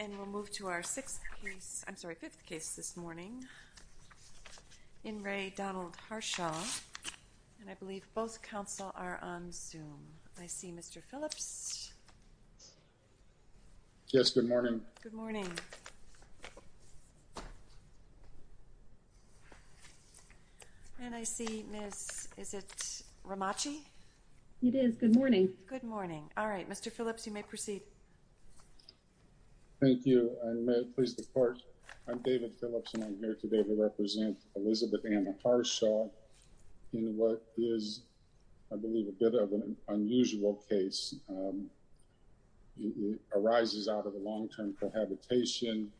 And we'll move to our sixth case, I'm sorry, fifth case this morning in Ray Donald Harshaw and I believe both counsel are on Zoom. I see Mr. Phillips. Yes, good morning. Good morning. And I see Miss, is it Ramachi? It is, good morning. All right, Mr. Phillips, you may proceed. Thank you. And may it please the court, I'm David Phillips and I'm here today to represent Elizabeth Anna Harshaw in what is, I believe, a bit of an unusual case. It arises out of a long-term cohabitation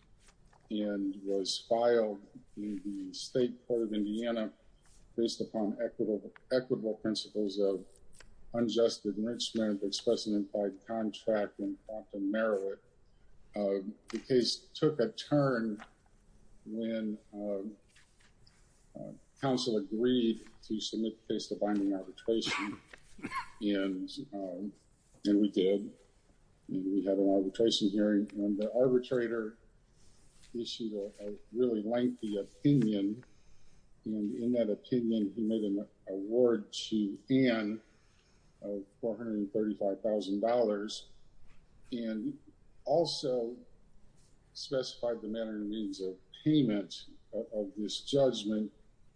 and was filed in the state court of Indiana based upon equitable principles of unjust enrichment, express an implied contract, and often narrow it. The case took a turn when counsel agreed to submit the case to binding arbitration and we did. We had an arbitration hearing and the arbitrator issued a really lengthy opinion. And in that opinion, he made an award to Ann of $435,000 and also specified the manner and means of payment of this judgment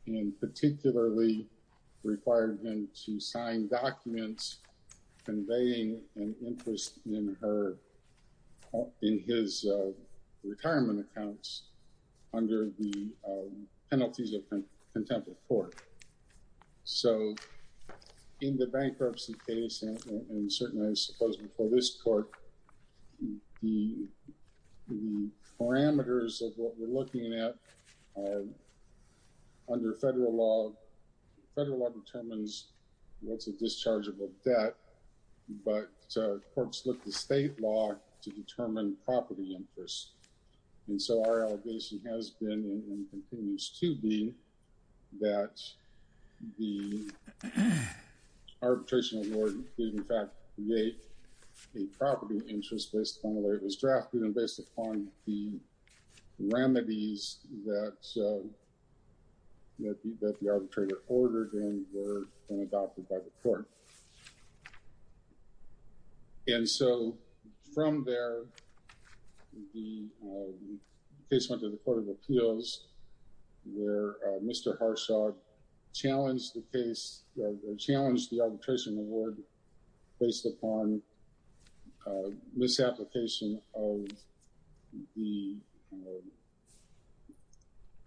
and particularly required him to sign documents conveying an interest in her, in his retirement accounts under the penalties of contempt of court. So, in the bankruptcy case and certainly I suppose before this court, the parameters of what we're looking at are under federal law, federal law determines what's a dischargeable debt, but courts look to state law to determine property interest. And so our allegation has been and continues to be that the arbitration award did in fact create a property interest based on the way it was drafted and based upon the remedies that the arbitrator ordered and were adopted by the court. And so from there, the case went to the court of appeals where Mr. Harshaw challenged the case, challenged the arbitration award based upon misapplication of the,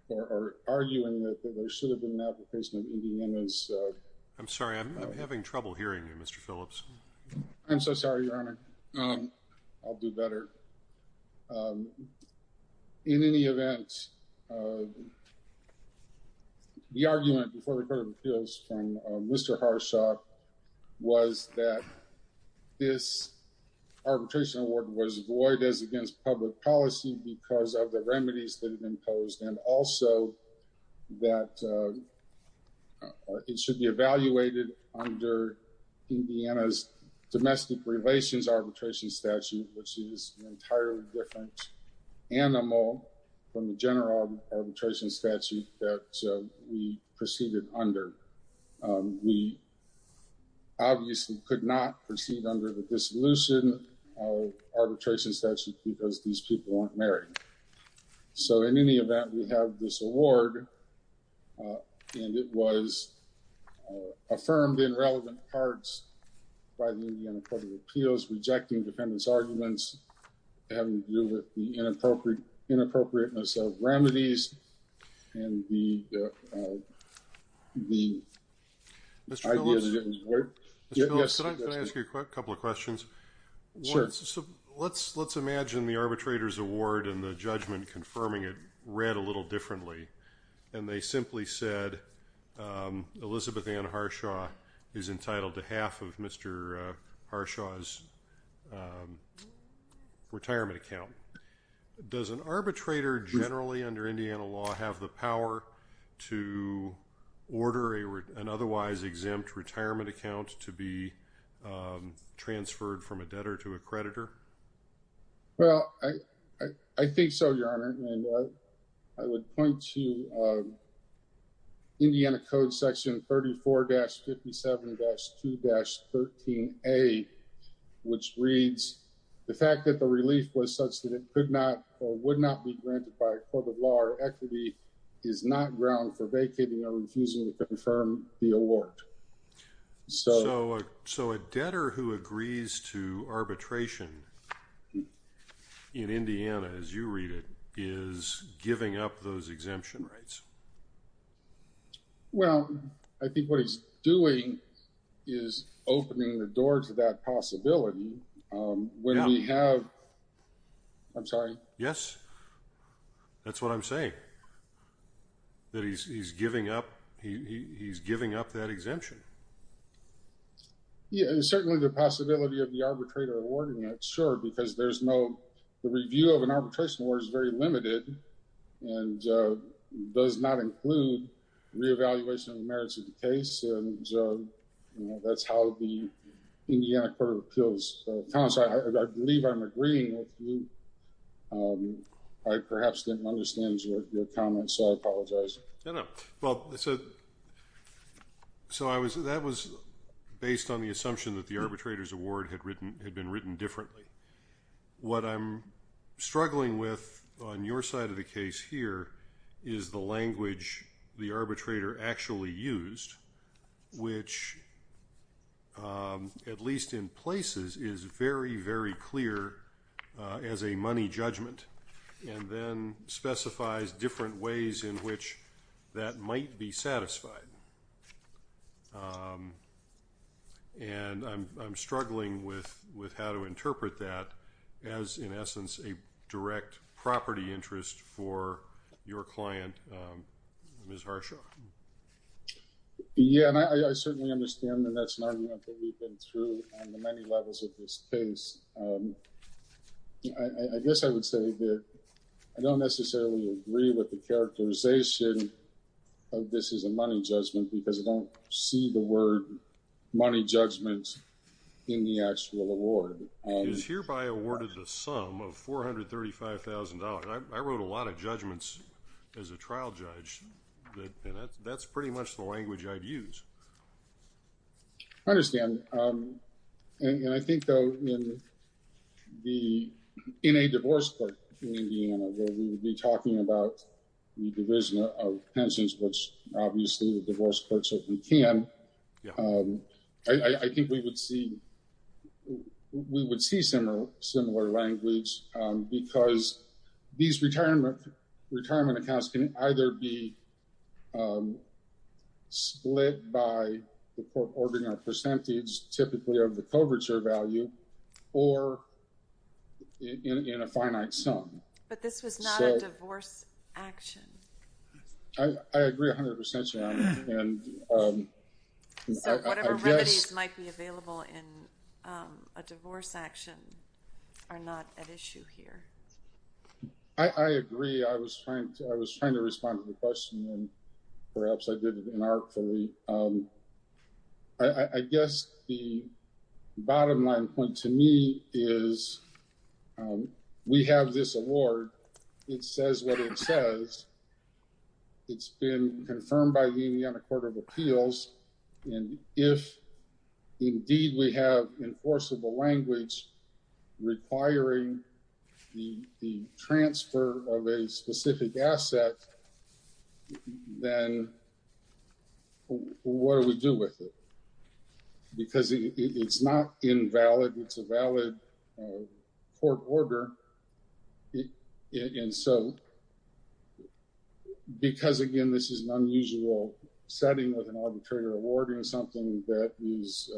or arguing that there should have been an application of EDM as a... I'm sorry, I'm having trouble hearing you, Mr. Phillips. I'm so sorry, Your Honor. I'll do better. In any event, the argument before the court of appeals from Mr. Harshaw was that this arbitration award was void as against public policy because of the remedies that have been imposed and also that it should be evaluated under Indiana's domestic relations arbitration statute, which is an entirely different animal from the general arbitration statute that we proceeded under. We obviously could not proceed under the dissolution of arbitration statute because these people aren't married. So in any event, we have this award and it was affirmed in relevant parts by the Indiana court of appeals, rejecting defendant's arguments, having to deal with the inappropriateness of remedies and the idea that it was void. Mr. Phillips, can I ask you a couple of questions? Sure. Let's imagine the arbitrator's award and the judgment confirming it read a little differently and they simply said Elizabeth Ann Harshaw is entitled to half of Mr. Harshaw's retirement account. Does an arbitrator generally under Indiana law have the power to order an otherwise exempt retirement account to be transferred from a debtor to a creditor? Well, I think so, Your Honor, and I would point to Indiana Code section 34-57-2-13A, which reads, the fact that the relief was such that it could not or would not be granted by a court of law or equity is not ground for vacating or refusing to confirm the award. So a debtor who agrees to arbitration in Indiana, as you read it, is giving up those exemption rights? Well, I think what he's doing is opening the door to that possibility. I'm sorry? Yes, that's what I'm saying, that he's giving up that exemption. Yeah, and certainly the possibility of the arbitrator awarding it, sure, because the review of an arbitration award is very limited and does not include re-evaluation of the merits of the case, and that's how the Indiana Court of Appeals comments. I believe I'm agreeing with you. I perhaps didn't understand your comments, so I apologize. No, no. So that was based on the assumption that the arbitrator's award had been written differently. What I'm struggling with on your side of the case here is the language the arbitrator actually used, which at least in places is very, very clear as a money judgment and then specifies different ways in which that might be satisfied. And I'm struggling with how to interpret that as, in essence, a direct property interest for your client, Ms. Harshaw. Yeah, and I certainly understand that that's an argument that we've been through on the many levels of this case. I guess I would say that I don't necessarily agree with the characterization of this as a money judgment because I don't see the word money judgment in the actual award. It is hereby awarded the sum of $435,000. I wrote a lot of judgments as a trial judge, and that's pretty much the language I'd use. I understand. And I think, though, in a divorce court in Indiana where we would be talking about the division of pensions, which obviously the divorce courts certainly can, I think we would see similar language because these retirement accounts can either be split by the court ordering a percentage, typically of the coverture value, or in a finite sum. But this was not a divorce action. I agree 100% with you on that. So whatever remedies might be available in a divorce action are not at issue here. I agree. I was trying to respond to the question, and perhaps I did it inartfully. I guess the bottom line point to me is we have this award. It says what it says. It's been confirmed by the Indiana Court of Appeals. And if indeed we have enforceable language requiring the transfer of a specific asset, then what do we do with it? Because it's not invalid. It's a valid court order. And so because, again, this is an unusual setting with an arbitrator awarding something that is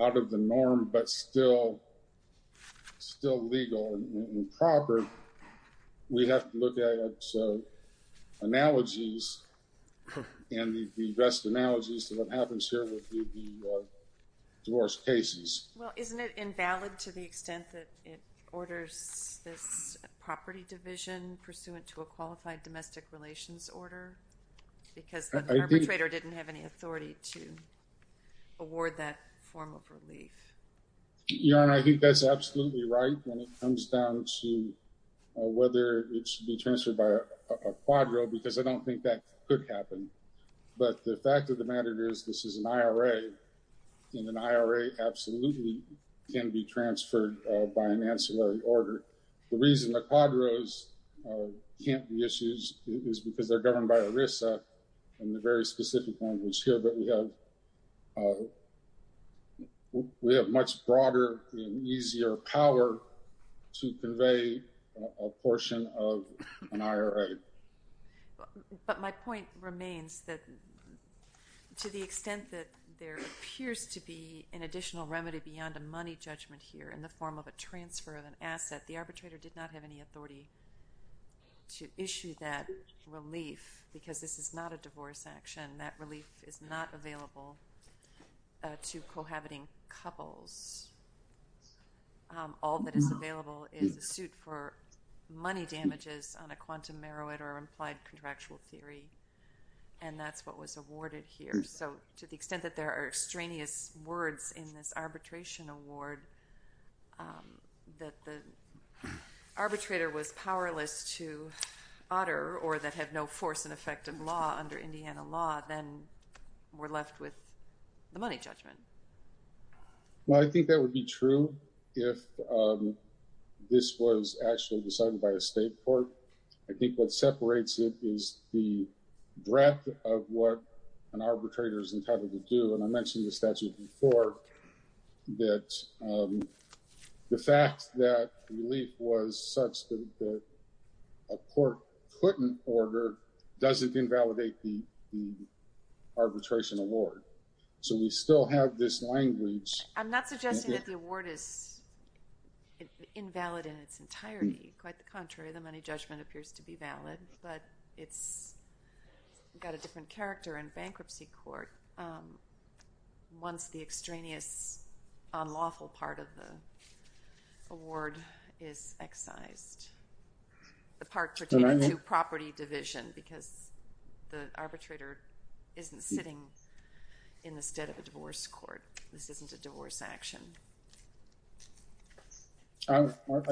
out of the norm but still legal and proper, we have to look at analogies and the best analogies to what happens here with the divorce cases. Well, isn't it invalid to the extent that it orders this property division pursuant to a qualified domestic relations order? Because the arbitrator didn't have any authority to award that form of relief. Your Honor, I think that's absolutely right when it comes down to whether it should be transferred by a quadro, because I don't think that could happen. But the fact of the matter is this is an IRA, and an IRA absolutely can be transferred by an ancillary order. The reason the quadros can't be issued is because they're governed by ERISA and the very specific language here. But we have much broader and easier power to convey a portion of an IRA. But my point remains that to the extent that there appears to be an additional remedy beyond a money judgment here in the form of a transfer of an asset, the arbitrator did not have any authority to issue that relief because this is not a divorce action. That relief is not available to cohabiting couples. All that is available is a suit for money damages on a quantum merit or implied contractual theory, and that's what was awarded here. So to the extent that there are extraneous words in this arbitration award that the arbitrator was powerless to utter or that had no force and effect of law under Indiana law, then we're left with the money judgment. Well, I think that would be true if this was actually decided by a state court. I think what separates it is the breadth of what an arbitrator is entitled to do. And I mentioned in the statute before that the fact that relief was such that a court couldn't order doesn't invalidate the arbitration award. So we still have this language. I'm not suggesting that the award is invalid in its entirety. Quite the contrary. The money judgment appears to be valid, but it's got a different character in bankruptcy court once the extraneous unlawful part of the award is excised. The part pertaining to property division, because the arbitrator isn't sitting in the stead of a divorce court. This isn't a divorce action. I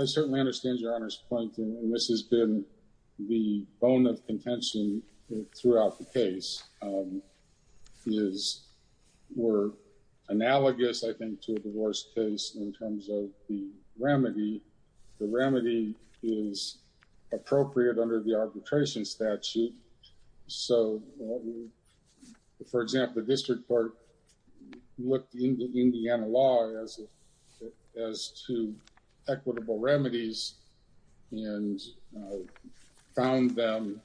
certainly understand Your Honor's point, and this has been the bone of contention throughout the case. We're analogous, I think, to a divorce case in terms of the remedy. The remedy is appropriate under the arbitration statute. So, for example, the district court looked into Indiana law as to equitable remedies and found them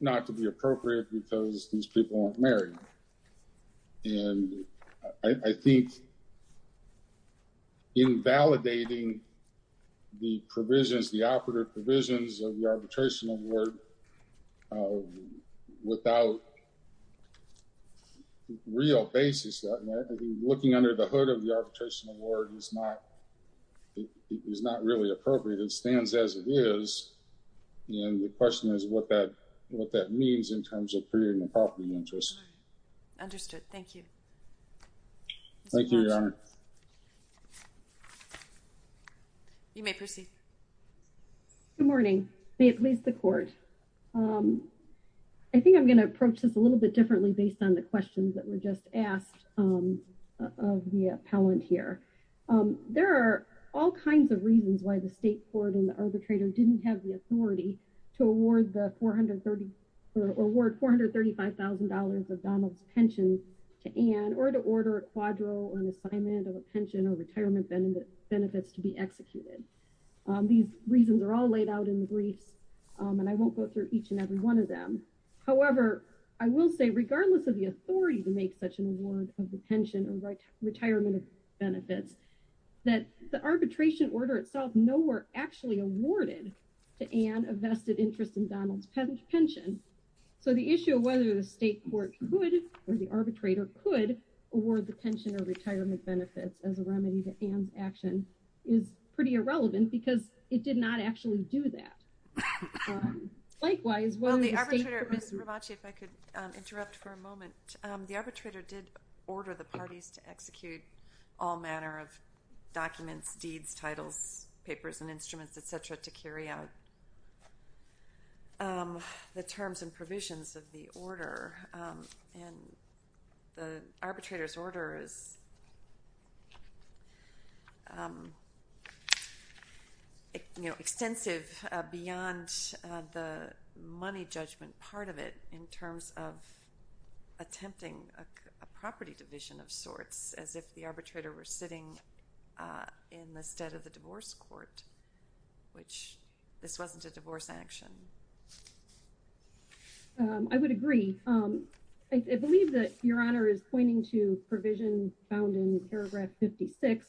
not to be appropriate because these people aren't married. And I think invalidating the provisions, the operative provisions of the arbitration award without real basis, looking under the hood of the arbitration award is not really appropriate. It stands as it is. And the question is what that means in terms of creating a property interest. Understood. Thank you. Thank you, Your Honor. You may proceed. Good morning. May it please the Court. I think I'm going to approach this a little bit differently based on the questions that were just asked of the appellant here. There are all kinds of reasons why the state court and the arbitrator didn't have the authority to award $435,000 of Donald's pension to Ann or to order a quadro or an assignment of a pension or retirement benefits to be executed. These reasons are all laid out in the briefs, and I won't go through each and every one of them. However, I will say regardless of the authority to make such an award of the pension or retirement benefits, that the arbitration order itself nowhere actually awarded to Ann a vested interest in Donald's pension. So the issue of whether the state court could or the arbitrator could award the pension or retirement benefits as a remedy to Ann's action is pretty irrelevant because it did not actually do that. Likewise, why would the state court— Well, the arbitrator—Ms. Rabaci, if I could interrupt for a moment. The arbitrator did order the parties to execute all manner of documents, deeds, titles, papers, and instruments, et cetera, to carry out the terms and provisions of the order. And the arbitrator's order is extensive beyond the money judgment part of it in terms of attempting a property division of sorts, as if the arbitrator were sitting in the stead of the divorce court, which this wasn't a divorce action. I would agree. I believe that Your Honor is pointing to provision found in paragraph 56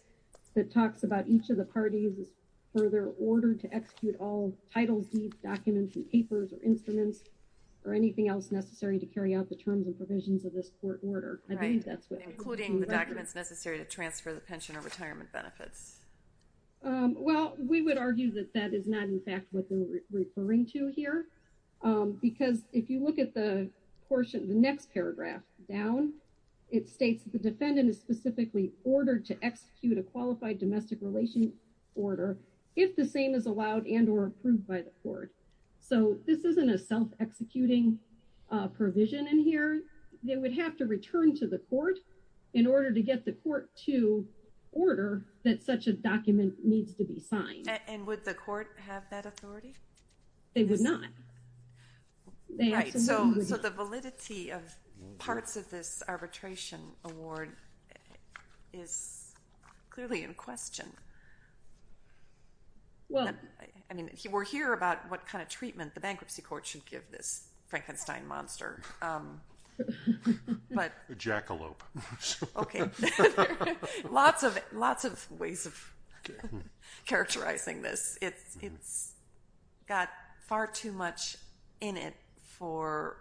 that talks about each of the parties' further order to execute all titles, deeds, documents, and papers, or instruments, or anything else necessary to carry out the terms and provisions of this court order. Right, including the documents necessary to transfer the pension or retirement benefits. Well, we would argue that that is not in fact what they're referring to here, because if you look at the portion of the next paragraph down, it states the defendant is specifically ordered to execute a qualified domestic relations order if the same is allowed and or approved by the court. So this isn't a self-executing provision in here. They would have to return to the court in order to get the court to order that such a document needs to be signed. And would the court have that authority? They would not. Right, so the validity of parts of this arbitration award is clearly in question. I mean, we're here about what kind of treatment the bankruptcy court should give this Frankenstein monster. A jackalope. Okay. Lots of ways of characterizing this. It's got far too much in it for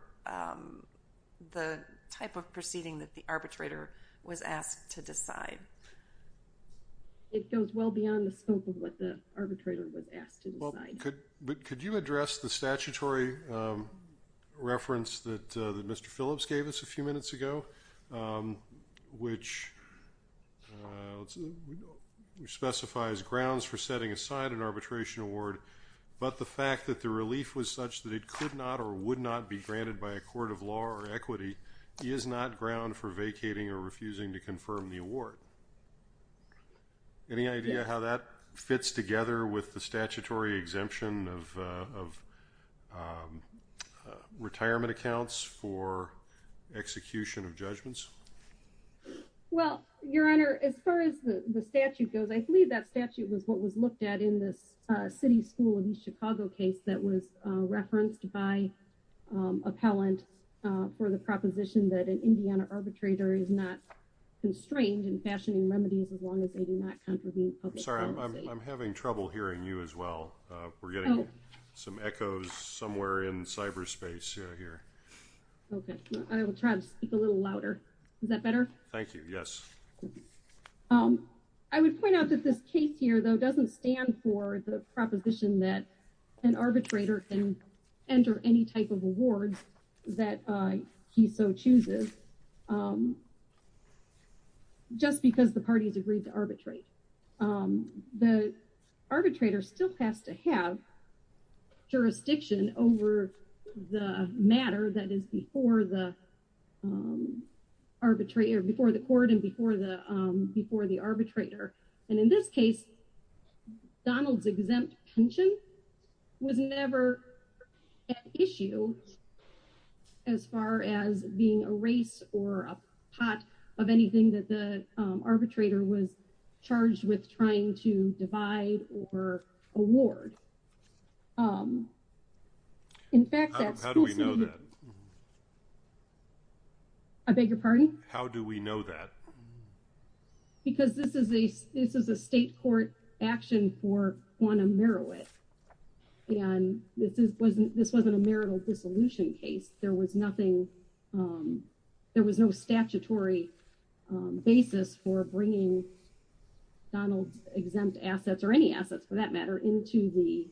the type of proceeding that the arbitrator was asked to decide. It goes well beyond the scope of what the arbitrator was asked to decide. But could you address the statutory reference that Mr. Phillips gave us a few minutes ago, which specifies grounds for setting aside an arbitration award, but the fact that the relief was such that it could not or would not be granted by a court of law or equity is not ground for vacating or refusing to confirm the award. Any idea how that fits together with the statutory exemption of retirement accounts for execution of judgments? Well, Your Honor, as far as the statute goes, I believe that statute was what was looked at in this city school in Chicago case that was referenced by for the proposition that an Indiana arbitrator is not constrained in fashioning remedies as long as they do not contribute. I'm sorry. I'm having trouble hearing you as well. We're getting some echoes somewhere in cyberspace here. Okay. I will try to speak a little louder. Is that better? Thank you. Yes. I would point out that this case here, though, doesn't stand for the proposition that an arbitrator can enter any type of award that he so chooses just because the parties agreed to arbitrate. The arbitrator still has to have jurisdiction over the matter that is before the court and before the arbitrator. And in this case, Donald's exempt pension was never an issue as far as being a race or a pot of anything that the arbitrator was charged with trying to divide or award. In fact, that's how do we know that? I beg your pardon? How do we know that? Because this is a this is a state court action for Guantanamo. And this is wasn't this wasn't a marital dissolution case. There was nothing. There was no statutory basis for bringing Donald's exempt assets or any assets, for that matter, into the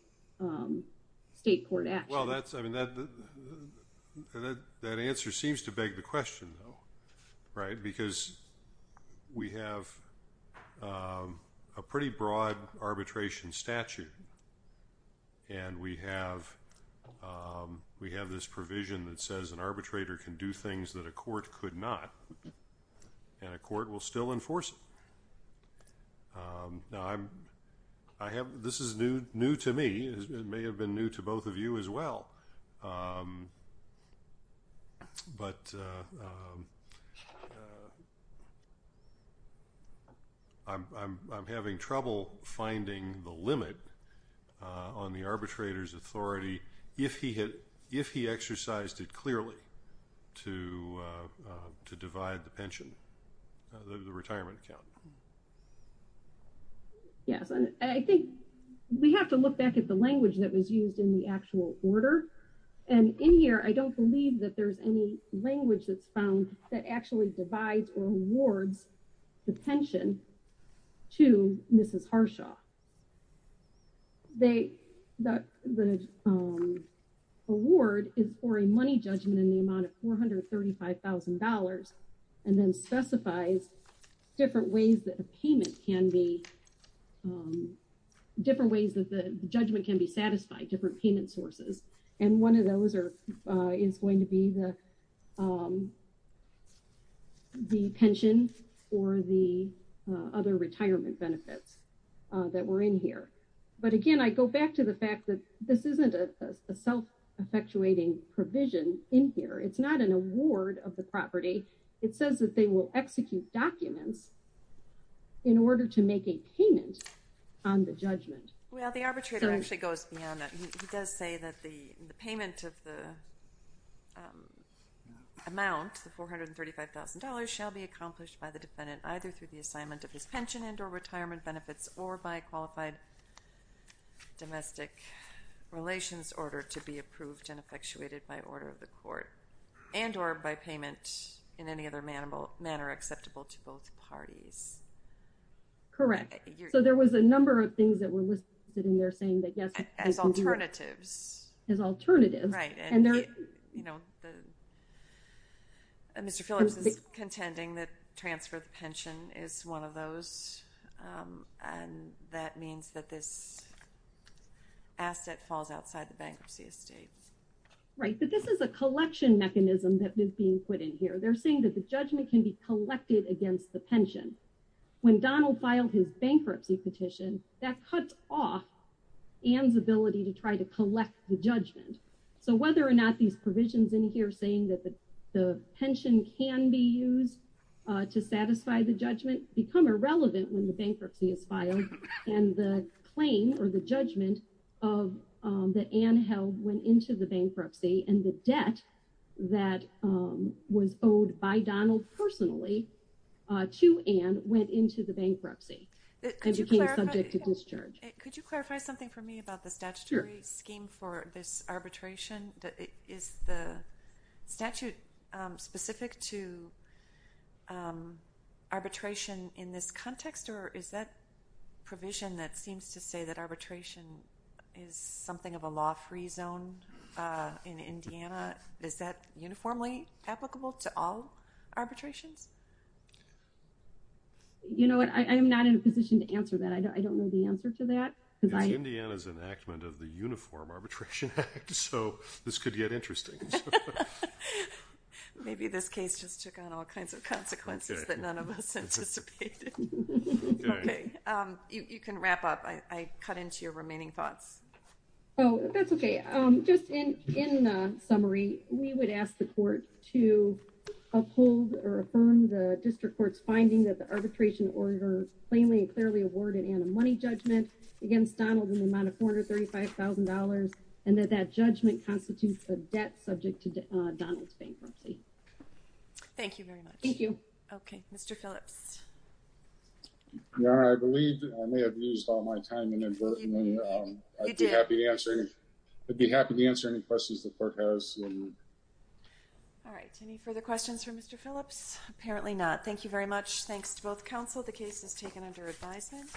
state court. Well, that's I mean, that that answer seems to beg the question, though. Right. Because we have a pretty broad arbitration statute. And we have we have this provision that says an arbitrator can do things that a court could not and a court will still enforce. Now, I'm I have this is new new to me. It may have been new to both of you as well. But. I'm having trouble finding the limit on the arbitrator's authority if he had if he exercised it clearly to to divide the pension, the retirement account. Yes, I think we have to look back at the language that was used in the actual order. And in here, I don't believe that there's any language that's found that actually divides or awards the pension to Mrs. Harshaw. They that the award is for a money judgment in the amount of four hundred thirty five thousand dollars and then specifies different ways that a payment can be different ways that the judgment can be satisfied different payment sources. And one of those are is going to be the the pension or the other retirement benefits that were in here. But again, I go back to the fact that this isn't a self effectuating provision in here. It's not an award of the property. It says that they will execute documents in order to make a payment on the judgment. Well, the arbitrator actually goes beyond that. He does say that the payment of the amount, the four hundred thirty five thousand dollars, shall be accomplished by the defendant either through the assignment of his pension and or retirement benefits or by qualified domestic relations order to be approved and effectuated by order of the court and or by payment in any other manner acceptable to both parties. Correct. So there was a number of things that were listed in there saying that, yes, as alternatives, as alternatives. Right. And, you know, Mr. Phillips is contending that transfer of pension is one of those. And that means that this asset falls outside the bankruptcy estate. Right. But this is a collection mechanism that is being put in here. They're saying that the judgment can be collected against the pension. When Donald filed his bankruptcy petition that cut off and the ability to try to collect the judgment. So whether or not these provisions in here saying that the pension can be used to satisfy the judgment become irrelevant when the bankruptcy is filed. And the claim or the judgment of that Anne Held went into the bankruptcy and the debt that was owed by Donald personally to Anne went into the bankruptcy and became subject to discharge. Could you clarify something for me about the statutory scheme for this arbitration? Is the statute specific to arbitration in this context or is that provision that seems to say that arbitration is something of a law free zone in Indiana? Is that uniformly applicable to all arbitrations? You know what? I am not in a position to answer that. I don't know the answer to that. It's Indiana's enactment of the Uniform Arbitration Act. So this could get interesting. Maybe this case just took on all kinds of consequences that none of us anticipated. You can wrap up. I cut into your remaining thoughts. Oh, that's okay. Just in summary, we would ask the court to uphold or affirm the district court's finding that the arbitration order plainly and clearly awarded and a money judgment against Donald in the amount of $435,000 and that that judgment constitutes a debt subject to Donald's bankruptcy. Thank you very much. Thank you. Okay, Mr. Phillips. Your Honor, I believe I may have used all my time inadvertently. You did. I'd be happy to answer any questions the court has. All right. Any further questions for Mr. Phillips? Apparently not. Thank you very much. Thanks to both counsel. The case is taken under advisement.